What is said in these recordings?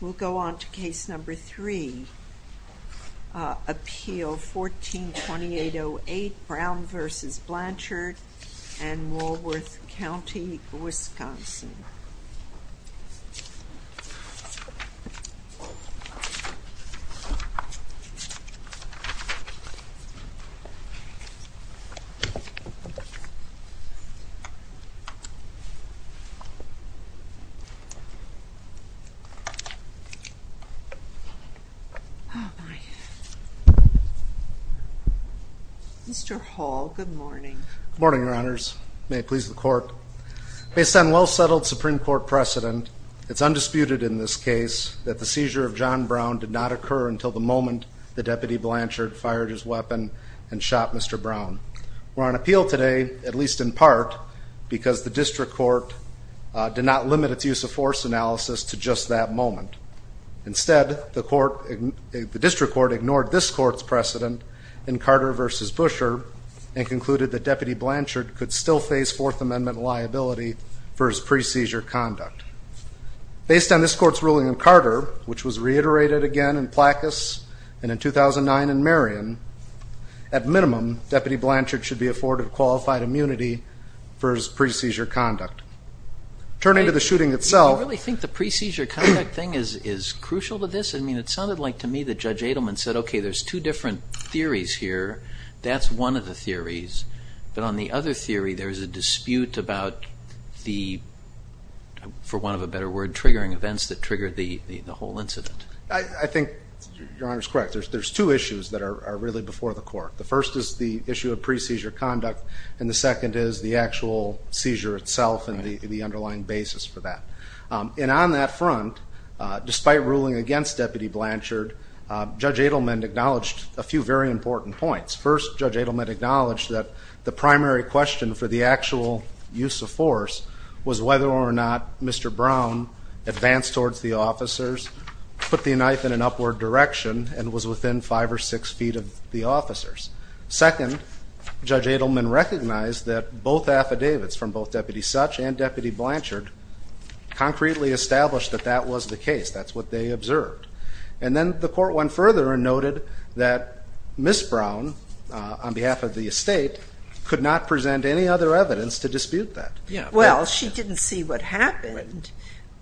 We'll go on to case number three, Appeal 14-2808 Brown v. Blanchard in Woolworth County, Wisconsin. Based on well-settled Supreme Court precedent, it is undisputed in this case that the seizure of John Brown did not occur until the moment the Deputy Blanchard fired his weapon and shot Mr. Brown. We are on appeal today, at least in part, because the District Court did not limit its use-of-force analysis to just that moment. Instead, the District Court ignored this Court's precedent in Carter v. Buescher and concluded that Deputy Blanchard could still face Fourth Amendment liability for his pre-seizure conduct. Based on this Court's ruling in Carter, which was reiterated again in Plakas and in 2009 in Marion, at minimum, Deputy Blanchard should be afforded qualified immunity for his pre-seizure conduct. Turning to the shooting itself Do you really think the pre-seizure conduct thing is crucial to this? I mean, it sounded like to me that Judge Adelman said, okay, there's two different theories here. That's one of the theories, but on the other theory there's a dispute about the, for want of a better word, triggering events that triggered the whole incident. I think Your Honor's correct. There's two issues that are really before the Court. The first is the issue of pre-seizure conduct, and the second is the actual seizure itself and the underlying basis for that. And on that front, despite ruling against Deputy Blanchard, Judge Adelman acknowledged a few very important points. First, Judge Adelman acknowledged that the primary question for the actual use of force was whether or not Mr. Brown advanced towards the officers, put the knife in an upward direction, and was within five or six feet of the officers. Second, Judge Adelman recognized that both affidavits from both Deputy Such and Deputy Blanchard concretely established that that was the case. That's what they observed. And then the Court went further and noted that Ms. Brown, on behalf of the estate, could not present any other evidence to dispute that. Well, she didn't see what happened,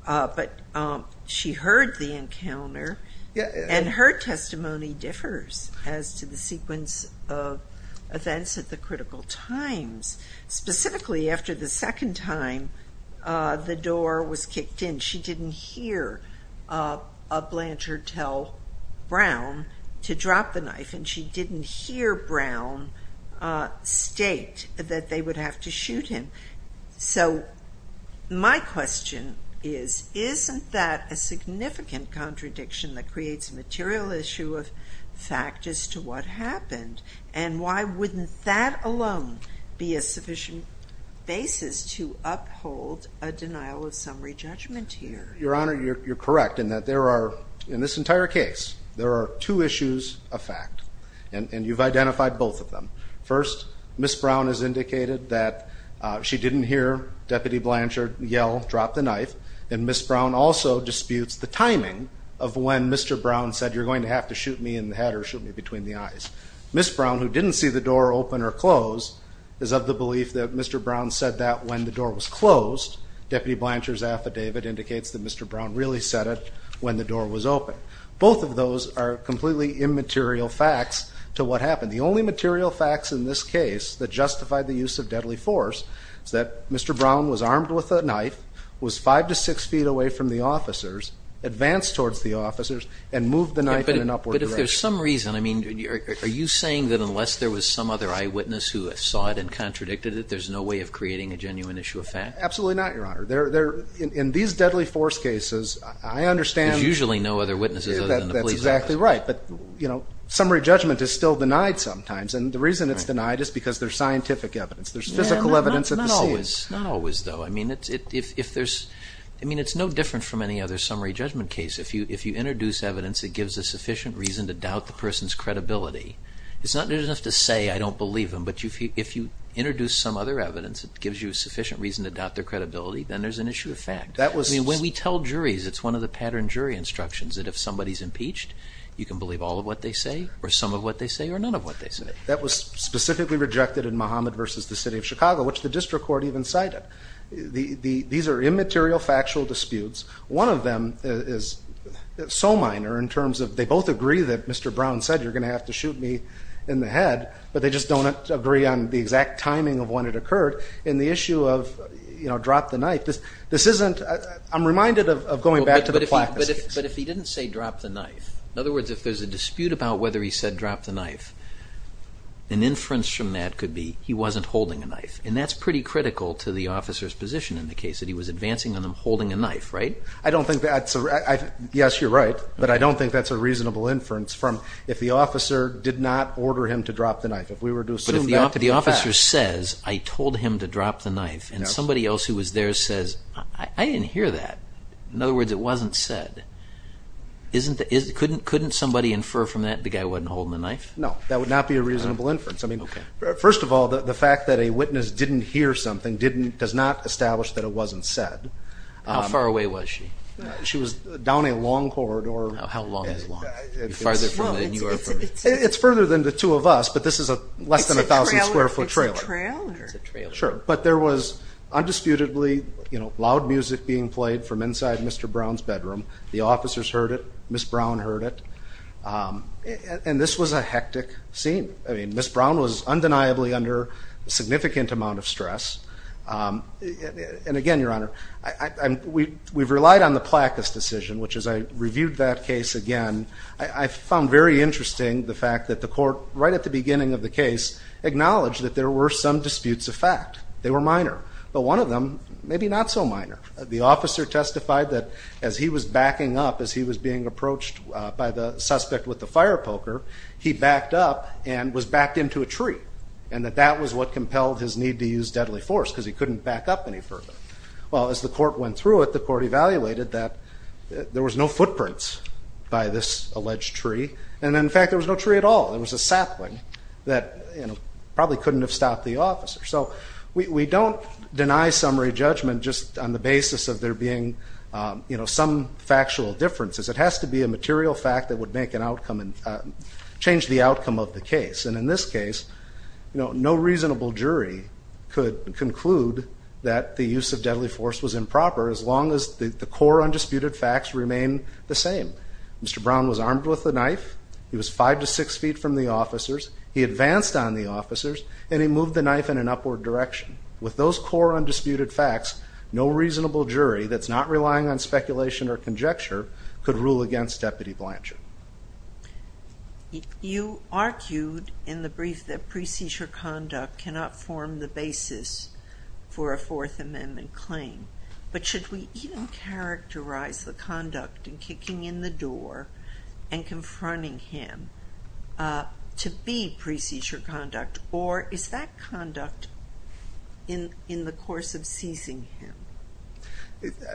but she heard the encounter, and her testimony differs as to the sequence of events at the critical times. Specifically, after the second time the door was kicked in, she didn't hear Blanchard tell Brown to drop the knife, and she didn't hear Brown state that they would have to shoot him. So my question is, isn't that a significant contradiction that creates a material issue of fact as to what happened? And why wouldn't that alone be a sufficient basis to uphold a denial of summary judgment here? Your Honor, you're correct in that there are, in this entire case, there are two issues of fact, and you've identified both of them. First, Ms. Brown has indicated that she didn't hear Deputy Blanchard yell, drop the knife, and Ms. Brown also disputes the timing of when Mr. Brown said, you're going to have to shoot me in the head or shoot me between the eyes. Ms. Brown, who didn't see the door open or close, is of the belief that Mr. Brown said that when the door was closed. Deputy Blanchard's affidavit indicates that Mr. Brown really said it when the door was open. Both of those are completely immaterial facts to what happened. The only material facts in this case that justify the use of deadly force is that Mr. Brown was six feet away from the officers, advanced towards the officers, and moved the knife in an upward direction. But if there's some reason, I mean, are you saying that unless there was some other eyewitness who saw it and contradicted it, there's no way of creating a genuine issue of fact? Absolutely not, Your Honor. In these deadly force cases, I understand- There's usually no other witnesses other than the police officers. That's exactly right. But, you know, summary judgment is still denied sometimes, and the reason it's denied is because there's scientific evidence. There's physical evidence at the scene. Not always. Not always, though. I mean, it's no different from any other summary judgment case. If you introduce evidence that gives a sufficient reason to doubt the person's credibility, it's not just enough to say, I don't believe him, but if you introduce some other evidence that gives you a sufficient reason to doubt their credibility, then there's an issue of fact. That was- I mean, when we tell juries, it's one of the pattern jury instructions, that if somebody's impeached, you can believe all of what they say, or some of what they say, or none of what they say. That was specifically rejected in Muhammad v. The City of Chicago, which the district court even cited. These are immaterial, factual disputes. One of them is so minor in terms of, they both agree that Mr. Brown said, you're going to have to shoot me in the head, but they just don't agree on the exact timing of when it occurred. And the issue of, you know, drop the knife, this isn't- I'm reminded of going back to the Placid case. But if he didn't say drop the knife, in other words, if there's a dispute about whether he said drop the knife, an inference from that could be, he wasn't holding a knife. And that's pretty critical to the officer's position in the case, that he was advancing on them holding a knife, right? I don't think that's- Yes, you're right. But I don't think that's a reasonable inference from, if the officer did not order him to drop the knife. If we were to assume that to be a fact- But if the officer says, I told him to drop the knife, and somebody else who was there says, I didn't hear that, in other words, it wasn't said, couldn't somebody infer from that the guy wasn't holding the knife? No. That would not be a reasonable inference. Okay. First of all, the fact that a witness didn't hear something does not establish that it wasn't said. How far away was she? She was down a long corridor. How long is long? Farther from the New York- It's further than the two of us, but this is less than a thousand square foot trailer. It's a trailer. It's a trailer. Sure. But there was undisputedly loud music being played from inside Mr. Brown's bedroom. The officers heard it. Miss Brown heard it. And this was a hectic scene. Miss Brown was undeniably under significant amount of stress. And again, Your Honor, we've relied on the Placas decision, which as I reviewed that case again, I found very interesting the fact that the court, right at the beginning of the case, acknowledged that there were some disputes of fact. They were minor. But one of them, maybe not so minor. The officer testified that as he was backing up, as he was being approached by the suspect with the fire poker, he backed up and was backed into a tree. And that that was what compelled his need to use deadly force because he couldn't back up any further. Well, as the court went through it, the court evaluated that there was no footprints by this alleged tree. And in fact, there was no tree at all. There was a sapling that probably couldn't have stopped the officer. So we don't deny summary judgment just on the basis of there being some factual differences. It has to be a material fact that would make an outcome and change the outcome of the case. And in this case, no reasonable jury could conclude that the use of deadly force was improper as long as the core undisputed facts remain the same. Mr. Brown was armed with a knife. He was five to six feet from the officers. He advanced on the officers and he moved the knife in an upward direction. With those core undisputed facts, no reasonable jury that's not relying on speculation or rule against Deputy Blanchard. You argued in the brief that pre-seizure conduct cannot form the basis for a Fourth Amendment claim. But should we even characterize the conduct in kicking in the door and confronting him to be pre-seizure conduct? Or is that conduct in the course of seizing him?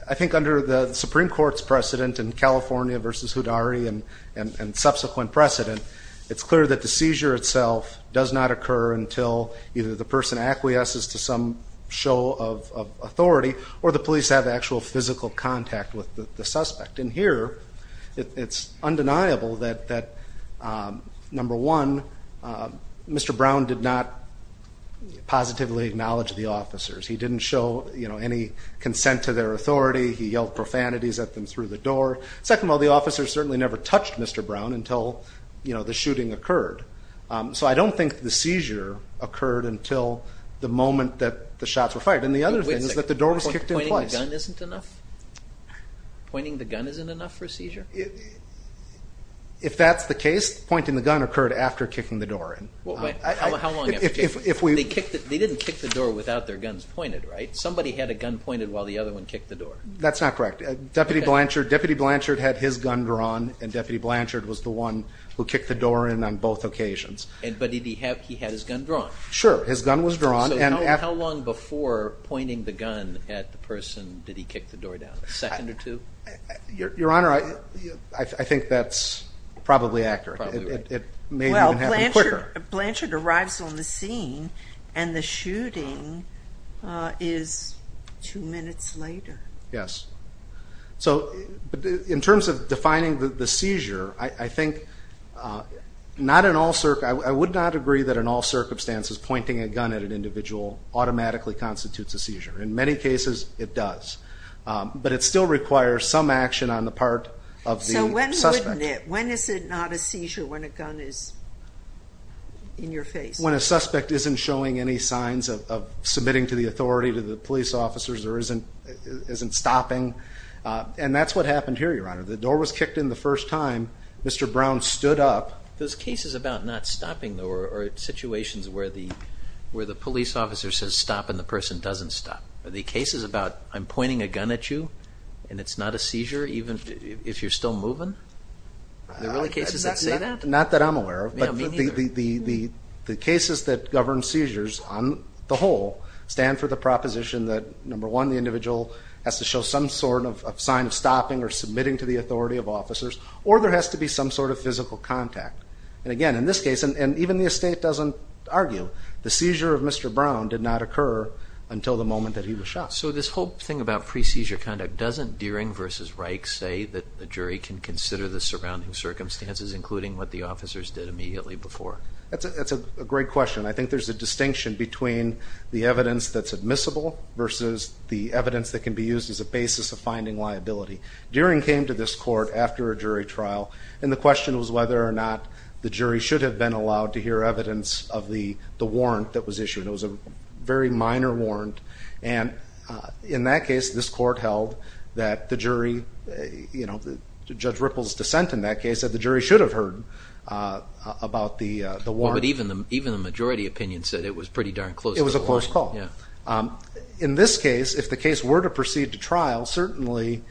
I think under the Supreme Court's precedent in California v. Houdari and subsequent precedent, it's clear that the seizure itself does not occur until either the person acquiesces to some show of authority or the police have actual physical contact with the suspect. And here, it's undeniable that, number one, Mr. Brown did not positively acknowledge the officers. He didn't show any consent to their authority. He yelled profanities at them through the door. Second of all, the officers certainly never touched Mr. Brown until the shooting occurred. So I don't think the seizure occurred until the moment that the shots were fired. And the other thing is that the door was kicked in twice. Pointing the gun isn't enough? Pointing the gun isn't enough for a seizure? If that's the case, pointing the gun occurred after kicking the door in. How long after kicking? They didn't kick the door without their guns pointed, right? Somebody had a gun pointed while the other one kicked the door. That's not correct. Deputy Blanchard had his gun drawn, and Deputy Blanchard was the one who kicked the door in on both occasions. But he had his gun drawn? Sure. His gun was drawn. So how long before pointing the gun at the person did he kick the door down? A second or two? Your Honor, I think that's probably accurate. It may have happened quicker. Blanchard arrives on the scene, and the shooting is two minutes later. Yes. So, in terms of defining the seizure, I think, I would not agree that in all circumstances pointing a gun at an individual automatically constitutes a seizure. In many cases, it does. But it still requires some action on the part of the suspect. When is it not a seizure when a gun is in your face? When a suspect isn't showing any signs of submitting to the authority, to the police officers, or isn't stopping. And that's what happened here, Your Honor. The door was kicked in the first time, Mr. Brown stood up. Those cases about not stopping, though, are situations where the police officer says stop and the person doesn't stop. The cases about, I'm pointing a gun at you, and it's not a seizure even if you're still moving? Are there really cases that say that? Not that I'm aware of, but the cases that govern seizures, on the whole, stand for the proposition that, number one, the individual has to show some sort of sign of stopping or submitting to the authority of officers, or there has to be some sort of physical contact. And again, in this case, and even the estate doesn't argue, the seizure of Mr. Brown did not occur until the moment that he was shot. So this whole thing about pre-seizure conduct, doesn't Deering v. Reich say that the jury can consider the surrounding circumstances, including what the officers did immediately before? That's a great question. I think there's a distinction between the evidence that's admissible versus the evidence that can be used as a basis of finding liability. Deering came to this court after a jury trial, and the question was whether or not the jury should have been allowed to hear evidence of the warrant that was issued. It was a very minor warrant. And in that case, this court held that the jury, you know, Judge Ripple's dissent in that case, that the jury should have heard about the warrant. Well, but even the majority opinion said it was pretty darn close to the warrant. It was a close call. In this case, if the case were to proceed to trial, certainly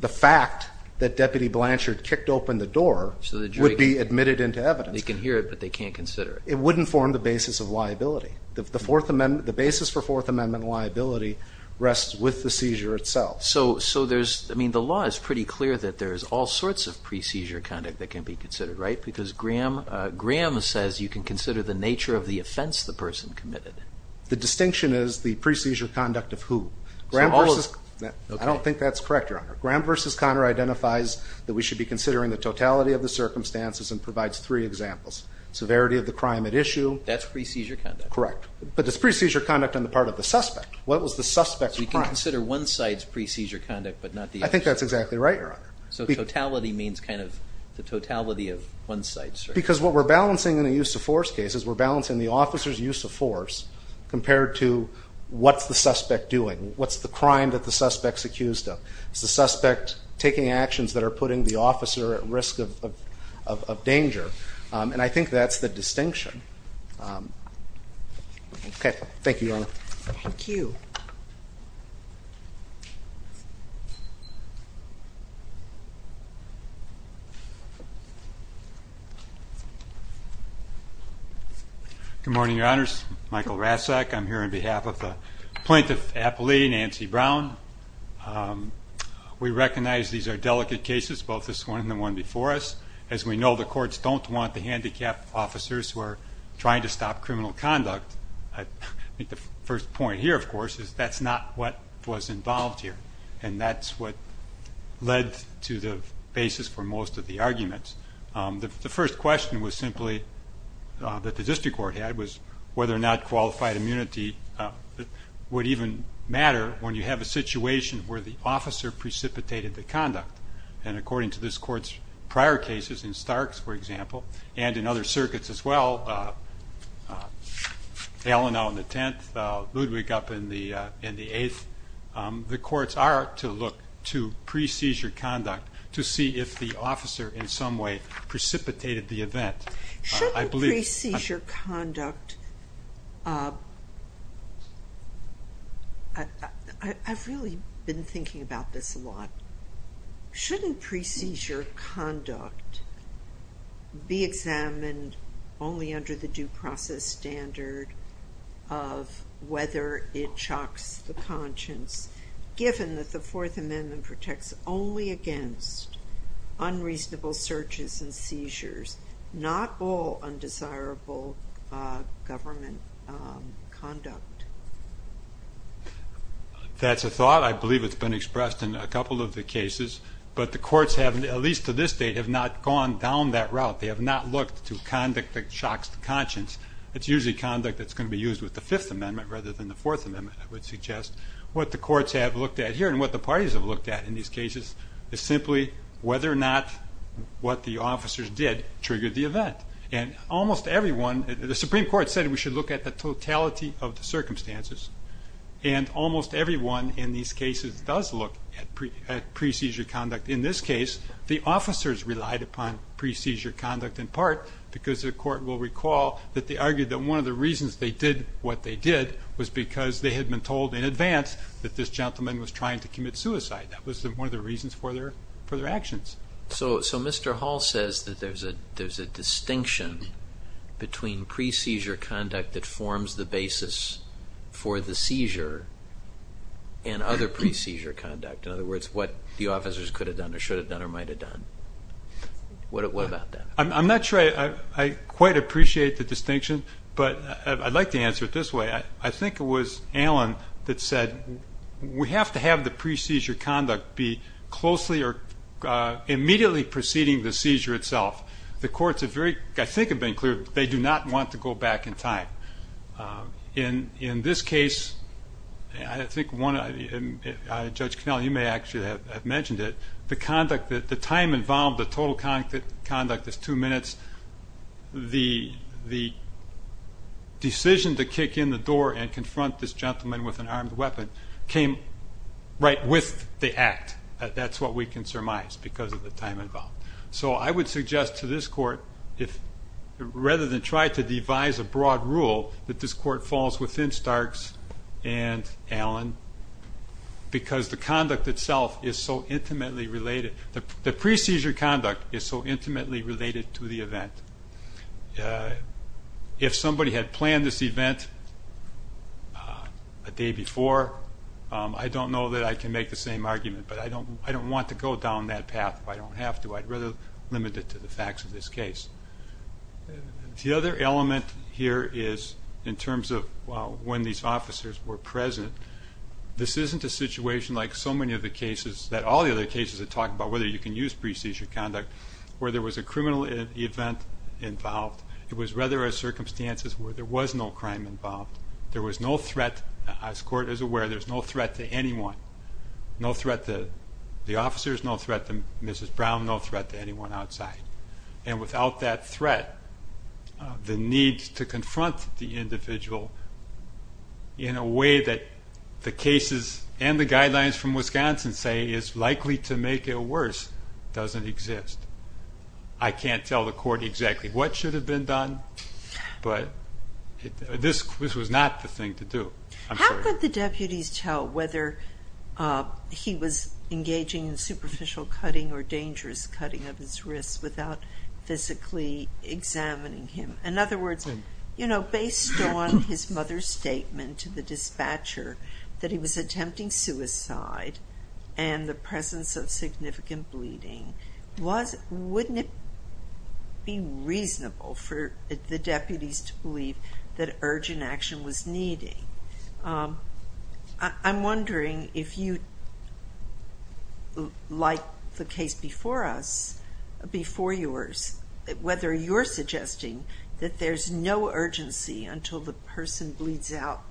the fact that Deputy Blanchard kicked open the door would be admitted into evidence. They can hear it, but they can't consider it. It wouldn't form the basis of liability. The basis for Fourth Amendment liability rests with the seizure itself. So there's, I mean, the law is pretty clear that there's all sorts of pre-seizure conduct that can be considered, right? Because Graham says you can consider the nature of the offense the person committed. The distinction is the pre-seizure conduct of who? I don't think that's correct, Your Honor. Graham v. Connor identifies that we should be considering the totality of the circumstances and provides three examples. Severity of the crime at issue. That's pre-seizure conduct. Correct. But it's pre-seizure conduct on the part of the suspect. What was the suspect's crime? So you can consider one side's pre-seizure conduct, but not the other. I think that's exactly right, Your Honor. So totality means kind of the totality of one side's? Because what we're balancing in a use of force case is we're balancing the officer's use of force compared to what's the suspect doing, what's the crime that the suspect's accused of. Is the suspect taking actions that are putting the officer at risk of danger? And I think that's the distinction. Okay. Thank you, Your Honor. Thank you. Good morning, Your Honors. Michael Rasek. I'm here on behalf of the plaintiff's appellee, Nancy Brown. We recognize these are delicate cases, both this one and the one before us. As we know, the courts don't want the handicapped officers who are trying to stop criminal conduct. I think the first point here, of course, is that's not what was involved here. And that's what led to the basis for most of the arguments. The first question was simply that the district court had was whether or not qualified immunity would even matter when you have a situation where the officer precipitated the conduct. And according to this court's prior cases, in Starks, for example, and in other circuits as well, Allen on the 10th, Ludwig up in the 8th, the courts are to look to pre-seizure conduct to see if the officer in some way precipitated the event. Shouldn't pre-seizure conduct – I've really been thinking about this a lot. Shouldn't pre-seizure conduct be examined only under the due process standard of whether it shocks the conscience, given that the Fourth Amendment protects only against unreasonable searches and seizures, not all undesirable government conduct? That's a thought. I believe it's been expressed in a couple of the cases. But the courts have, at least to this date, have not gone down that route. They have not looked to conduct that shocks the conscience. It's usually conduct that's going to be used with the Fifth Amendment rather than the Fourth Amendment, I would suggest. What the courts have looked at here and what the parties have looked at in these cases is simply whether or not what the officers did triggered the event. And almost everyone – the Supreme Court said we should look at the totality of the cases does look at pre-seizure conduct. In this case, the officers relied upon pre-seizure conduct in part because the court will recall that they argued that one of the reasons they did what they did was because they had been told in advance that this gentleman was trying to commit suicide. That was one of the reasons for their actions. So Mr. Hall says that there's a distinction between pre-seizure conduct that forms the pre-seizure conduct. In other words, what the officers could have done or should have done or might have done. What about that? I'm not sure I quite appreciate the distinction, but I'd like to answer it this way. I think it was Alan that said we have to have the pre-seizure conduct be closely or immediately preceding the seizure itself. The courts have very – I think have been clear they do not want to go back in time. In this case, I think Judge Connell, you may actually have mentioned it, the time involved, the total conduct is two minutes. The decision to kick in the door and confront this gentleman with an armed weapon came right with the act. That's what we can surmise because of the time involved. So I would suggest to this court, rather than try to devise a broad rule, that this court falls within Stark's and Alan, because the conduct itself is so intimately related. The pre-seizure conduct is so intimately related to the event. If somebody had planned this event a day before, I don't know that I can make the same argument, but I don't want to go down that path if I don't have to. I'd rather limit it to the facts of this case. The other element here is in terms of when these officers were present. This isn't a situation like so many of the cases that – all the other cases that talk about whether you can use pre-seizure conduct, where there was a criminal event involved. It was rather a circumstance where there was no crime involved. There was no threat – as court is aware, there's no threat to anyone. No threat to the officers, no threat to Mrs. Brown, no threat to anyone outside. And without that threat, the need to confront the individual in a way that the cases and the guidelines from Wisconsin say is likely to make it worse doesn't exist. I can't tell the court exactly what should have been done, but this was not the thing to do. I'm sorry. How could the deputies tell whether he was engaging in superficial cutting or dangerous cutting of his wrists without physically examining him? In other words, based on his mother's statement to the dispatcher that he was attempting suicide and the presence of significant bleeding, wouldn't it be reasonable for the deputies to believe that urgent action was needed? I'm wondering if you, like the case before us, before yours, whether you're suggesting that there's no urgency until the person bleeds out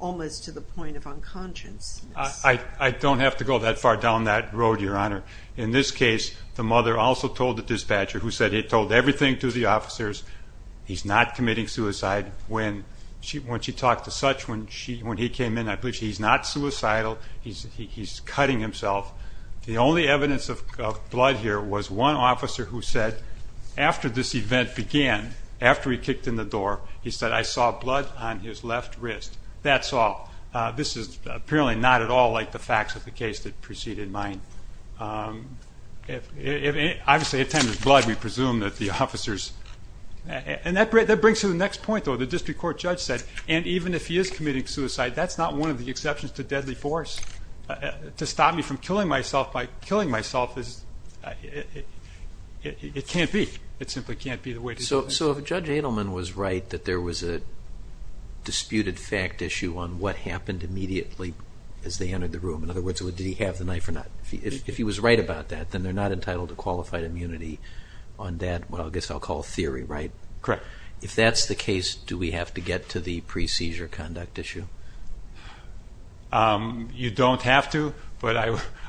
almost to the point of unconsciousness. I don't have to go that far down that road, Your Honor. In this case, the mother also told the dispatcher, who said he had told everything to the officers, he's not committing suicide. When she talked to Such, when he came in, I believe he's not suicidal. He's cutting himself. The only evidence of blood here was one officer who said, after this event began, after he kicked in the door, he said, I saw blood on his left wrist. That's all. This is apparently not at all like the facts of the case that preceded mine. Obviously, at the time of his blood, we presume that the officers, and that brings to the next point, though. The district court judge said, and even if he is committing suicide, that's not one of the exceptions to deadly force. To stop me from killing myself by killing myself, it can't be. It simply can't be the way to do it. So if Judge Adelman was right that there was a disputed fact issue on what happened immediately as they entered the room, in other words, did he have the knife or not? If he was right about that, then they're not entitled to qualified immunity on that, what I guess I'll call theory, right? Correct. If that's the case, do we have to get to the pre-seizure conduct issue? You don't have to, but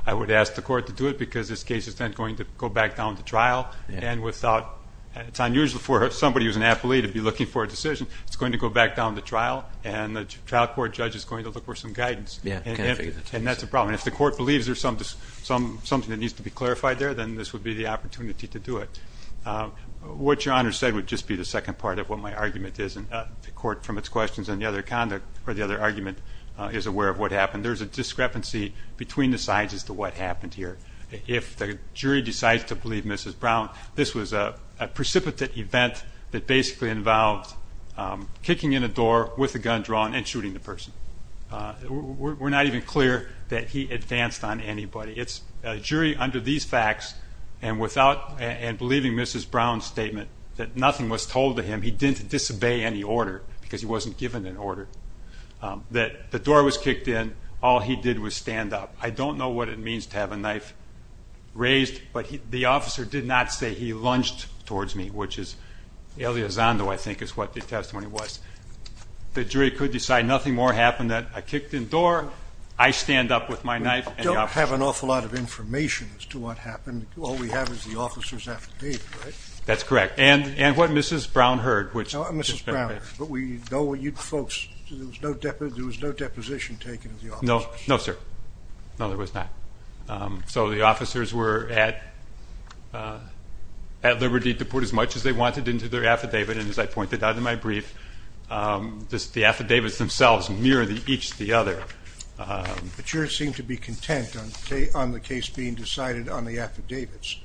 I would ask the court to do it because this case is then going to go back down to trial, and without, it's unusual for somebody who's an appellee to be looking for a decision. It's going to go back down to trial, and the trial court judge is going to look for some guidance. Yeah. And that's a problem. I mean, if the court believes there's something that needs to be clarified there, then this would be the opportunity to do it. What Your Honor said would just be the second part of what my argument is, and the court from its questions on the other conduct or the other argument is aware of what happened. There's a discrepancy between the sides as to what happened here. If the jury decides to believe Mrs. Brown, this was a precipitate event that basically involved kicking in a door with a gun drawn and shooting the person. We're not even clear that he advanced on anybody. It's a jury under these facts, and without, and believing Mrs. Brown's statement that nothing was told to him, he didn't disobey any order because he wasn't given an order, that the door was kicked in, all he did was stand up. I don't know what it means to have a knife raised, but the officer did not say he lunged towards me, which is the Elizondo, I think, is what the testimony was. The jury could decide nothing more happened than I kicked in the door, I stand up with my knife, and the officer... We don't have an awful lot of information as to what happened. All we have is the officer's affidavit, right? That's correct. And what Mrs. Brown heard, which... Mrs. Brown. But we know you folks, there was no deposition taken of the officers. No, sir. No, there was not. So the officers were at liberty to put as much as they wanted into their affidavit, and as I pointed out in my brief, the affidavits themselves mirror each the other. But you seem to be content on the case being decided on the affidavits,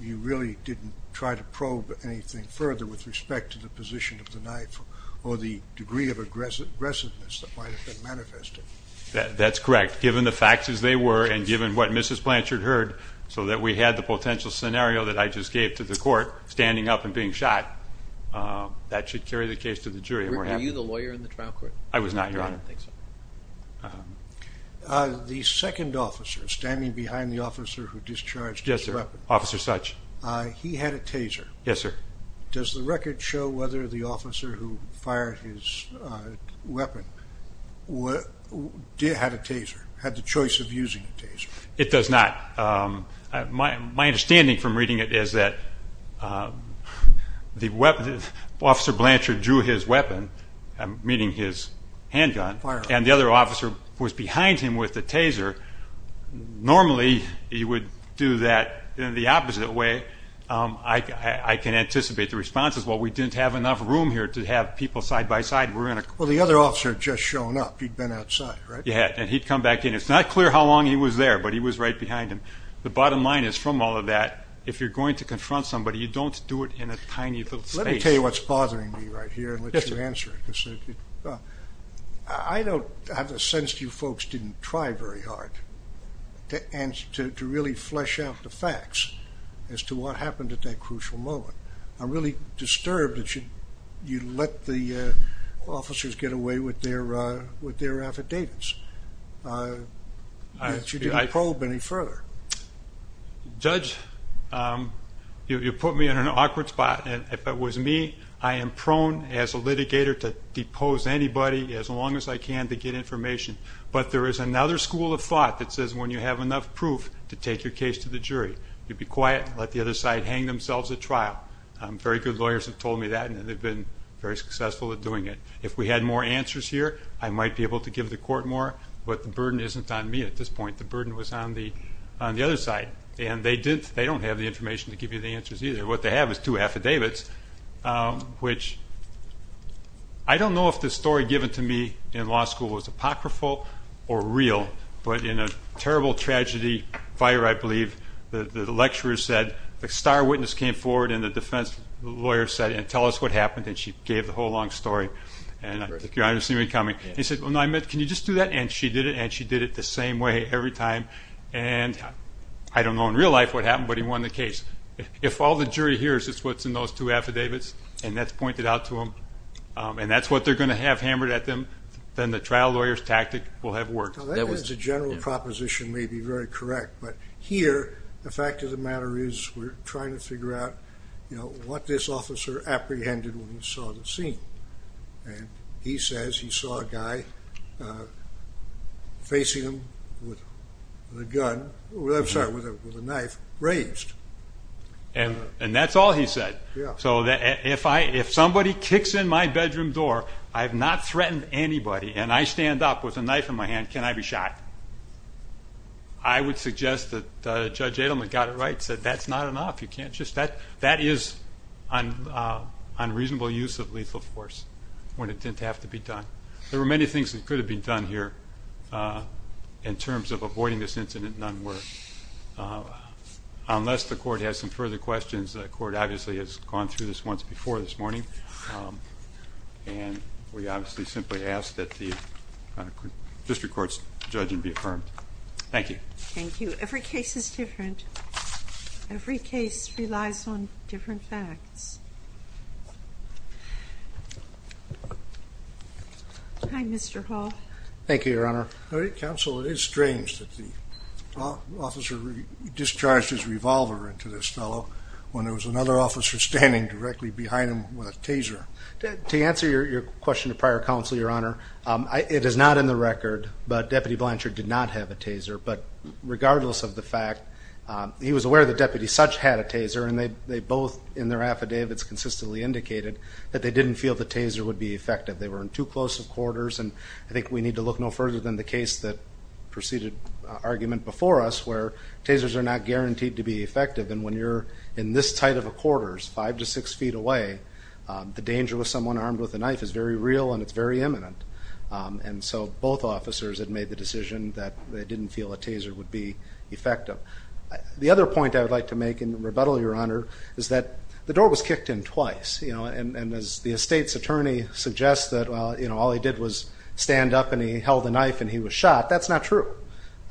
you really didn't try to probe anything further with respect to the position of the knife, or the degree of aggressiveness that might have been manifested. That's correct. Given the facts as they were, and given what Mrs. Blanchard heard, so that we had the potential scenario that I just gave to the court, standing up and being shot, that should carry the case to the jury. Were you the lawyer in the trial court? I was not, Your Honor. The second officer, standing behind the officer who discharged his weapon, he had a taser. Does the record show whether the officer who fired his weapon had a taser, had the choice of using a taser? It does not. My understanding from reading it is that Officer Blanchard drew his weapon, meaning his handgun, and the other officer was behind him with the taser. Normally, he would do that in the opposite way. I can anticipate the responses, well, we didn't have enough room here to have people side by side. Well, the other officer had just shown up, he'd been outside, right? Yeah, and he'd come back in. It's not clear how long he was there, but he was right behind him. The bottom line is, from all of that, if you're going to confront somebody, you don't do it in a tiny little space. Let me tell you what's bothering me right here and let you answer it. I don't have a sense that you folks didn't try very hard to really flesh out the facts as to what happened at that crucial moment. I'm really disturbed that you let the officers get away with their affidavits, that you didn't probe any further. Judge, you put me in an awkward spot, and if it was me, I am prone as a litigator to depose anybody as long as I can to get information, but there is another school of thought that says when you have enough proof to take your case to the jury, you'd be quiet and let the other side hang themselves at trial. Very good lawyers have told me that, and they've been very successful at doing it. If we had more answers here, I might be able to give the court more, but the burden isn't on me at this point. The burden was on the other side, and they don't have the information to give you the answers either. What they have is two affidavits, which I don't know if the story given to me in law school was apocryphal or real, but in a terrible tragedy fire, I believe, the lecturers said the star witness came forward and the defense lawyer said, tell us what happened, and she gave the whole long story, and I think your honor has seen me coming, and he said, can you just do that? And she did it, and she did it the same way every time, and I don't know in real life what happened, but he won the case. If all the jury hears is what's in those two affidavits, and that's pointed out to them, and that's what they're going to have hammered at them, then the trial lawyer's tactic will have worked. That is a general proposition, may be very correct, but here the fact of the matter is we're trying to figure out what this officer apprehended when he saw the scene, and he says he saw a guy facing him with a knife raised. And that's all he said. So if somebody kicks in my bedroom door, I have not threatened anybody, and I stand up with a knife in my hand, can I be shot? I would suggest that Judge Adelman got it right, said that's not enough, that is unreasonable use of lethal force, when it didn't have to be done. There were many things that could have been done here in terms of avoiding this incident, none were. Unless the court has some further questions, the court obviously has gone through this once before this morning, and we obviously simply ask that the district court's judgment be affirmed. Thank you. Thank you. Every case is different. Every case relies on different facts. Hi, Mr. Hall. Thank you, Your Honor. Counsel, it is strange that the officer discharged his revolver into this fellow when there was another officer standing directly behind him with a taser. To answer your question to prior counsel, Your Honor, it is not in the record, but Deputy Blanchard did not have a taser. But regardless of the fact, he was aware that Deputies Sutch had a taser, and they both, in their affidavits, consistently indicated that they didn't feel the taser would be effective. They were in too close of quarters, and I think we need to look no further than the case that preceded argument before us, where tasers are not guaranteed to be effective. And when you're in this tight of a quarters, five to six feet away, the danger with someone armed with a knife is very real, and it's very imminent. And so both officers had made the decision that they didn't feel a taser would be effective. The other point I would like to make in rebuttal, Your Honor, is that the door was kicked in twice. You know, and as the estate's attorney suggests that, well, you know, all he did was stand up and he held a knife and he was shot, that's not true.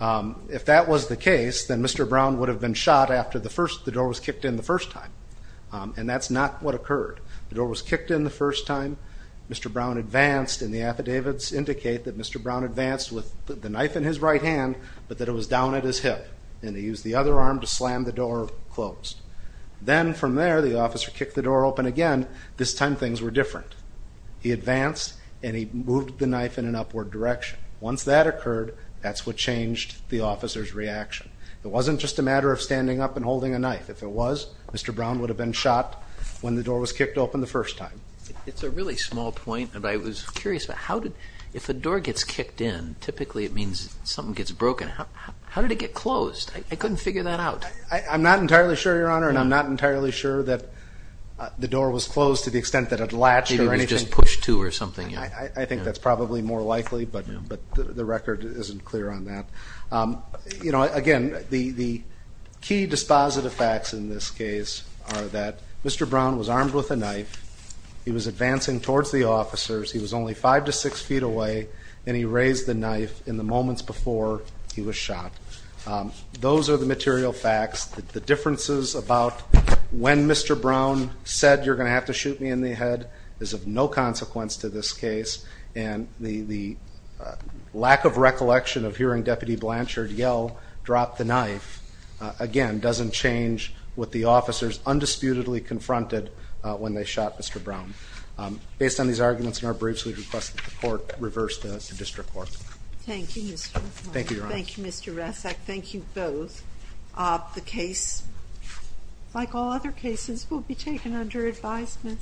If that was the case, then Mr. Brown would have been shot after the door was kicked in the first time, and that's not what occurred. The door was kicked in the first time, Mr. Brown advanced, and the affidavits indicate that Mr. Brown advanced with the knife in his right hand, but that it was down at his hip, and he used the other arm to slam the door closed. Then from there, the officer kicked the door open again, this time things were different. He advanced and he moved the knife in an upward direction. Once that occurred, that's what changed the officer's reaction. It wasn't just a matter of standing up and holding a knife. If it was, Mr. Brown would have been shot when the door was kicked open the first time. It's a really small point, but I was curious about how did, if a door gets kicked in, typically it means something gets broken. How did it get closed? I couldn't figure that out. I'm not entirely sure, Your Honor, and I'm not entirely sure that the door was closed to the extent that it latched or anything. Maybe it was just pushed to or something. I think that's probably more likely, but the record isn't clear on that. Again, the key dispositive facts in this case are that Mr. Brown was armed with a knife, he was advancing towards the officers, he was only five to six feet away, and he raised the knife in the moments before he was shot. Those are the material facts. The differences about when Mr. Brown said, you're going to have to shoot me in the head is of no consequence to this case, and the lack of recollection of hearing Deputy Blanchard yell, drop the knife, again, doesn't change what the officers undisputedly confronted when they shot Mr. Brown. Based on these arguments in our briefs, we request that the Court reverse the District Court. Thank you, Mr. White. Thank you, Your Honor. Thank you, Mr. Resak. Thank you both. The case, like all other cases, will be taken under advisement.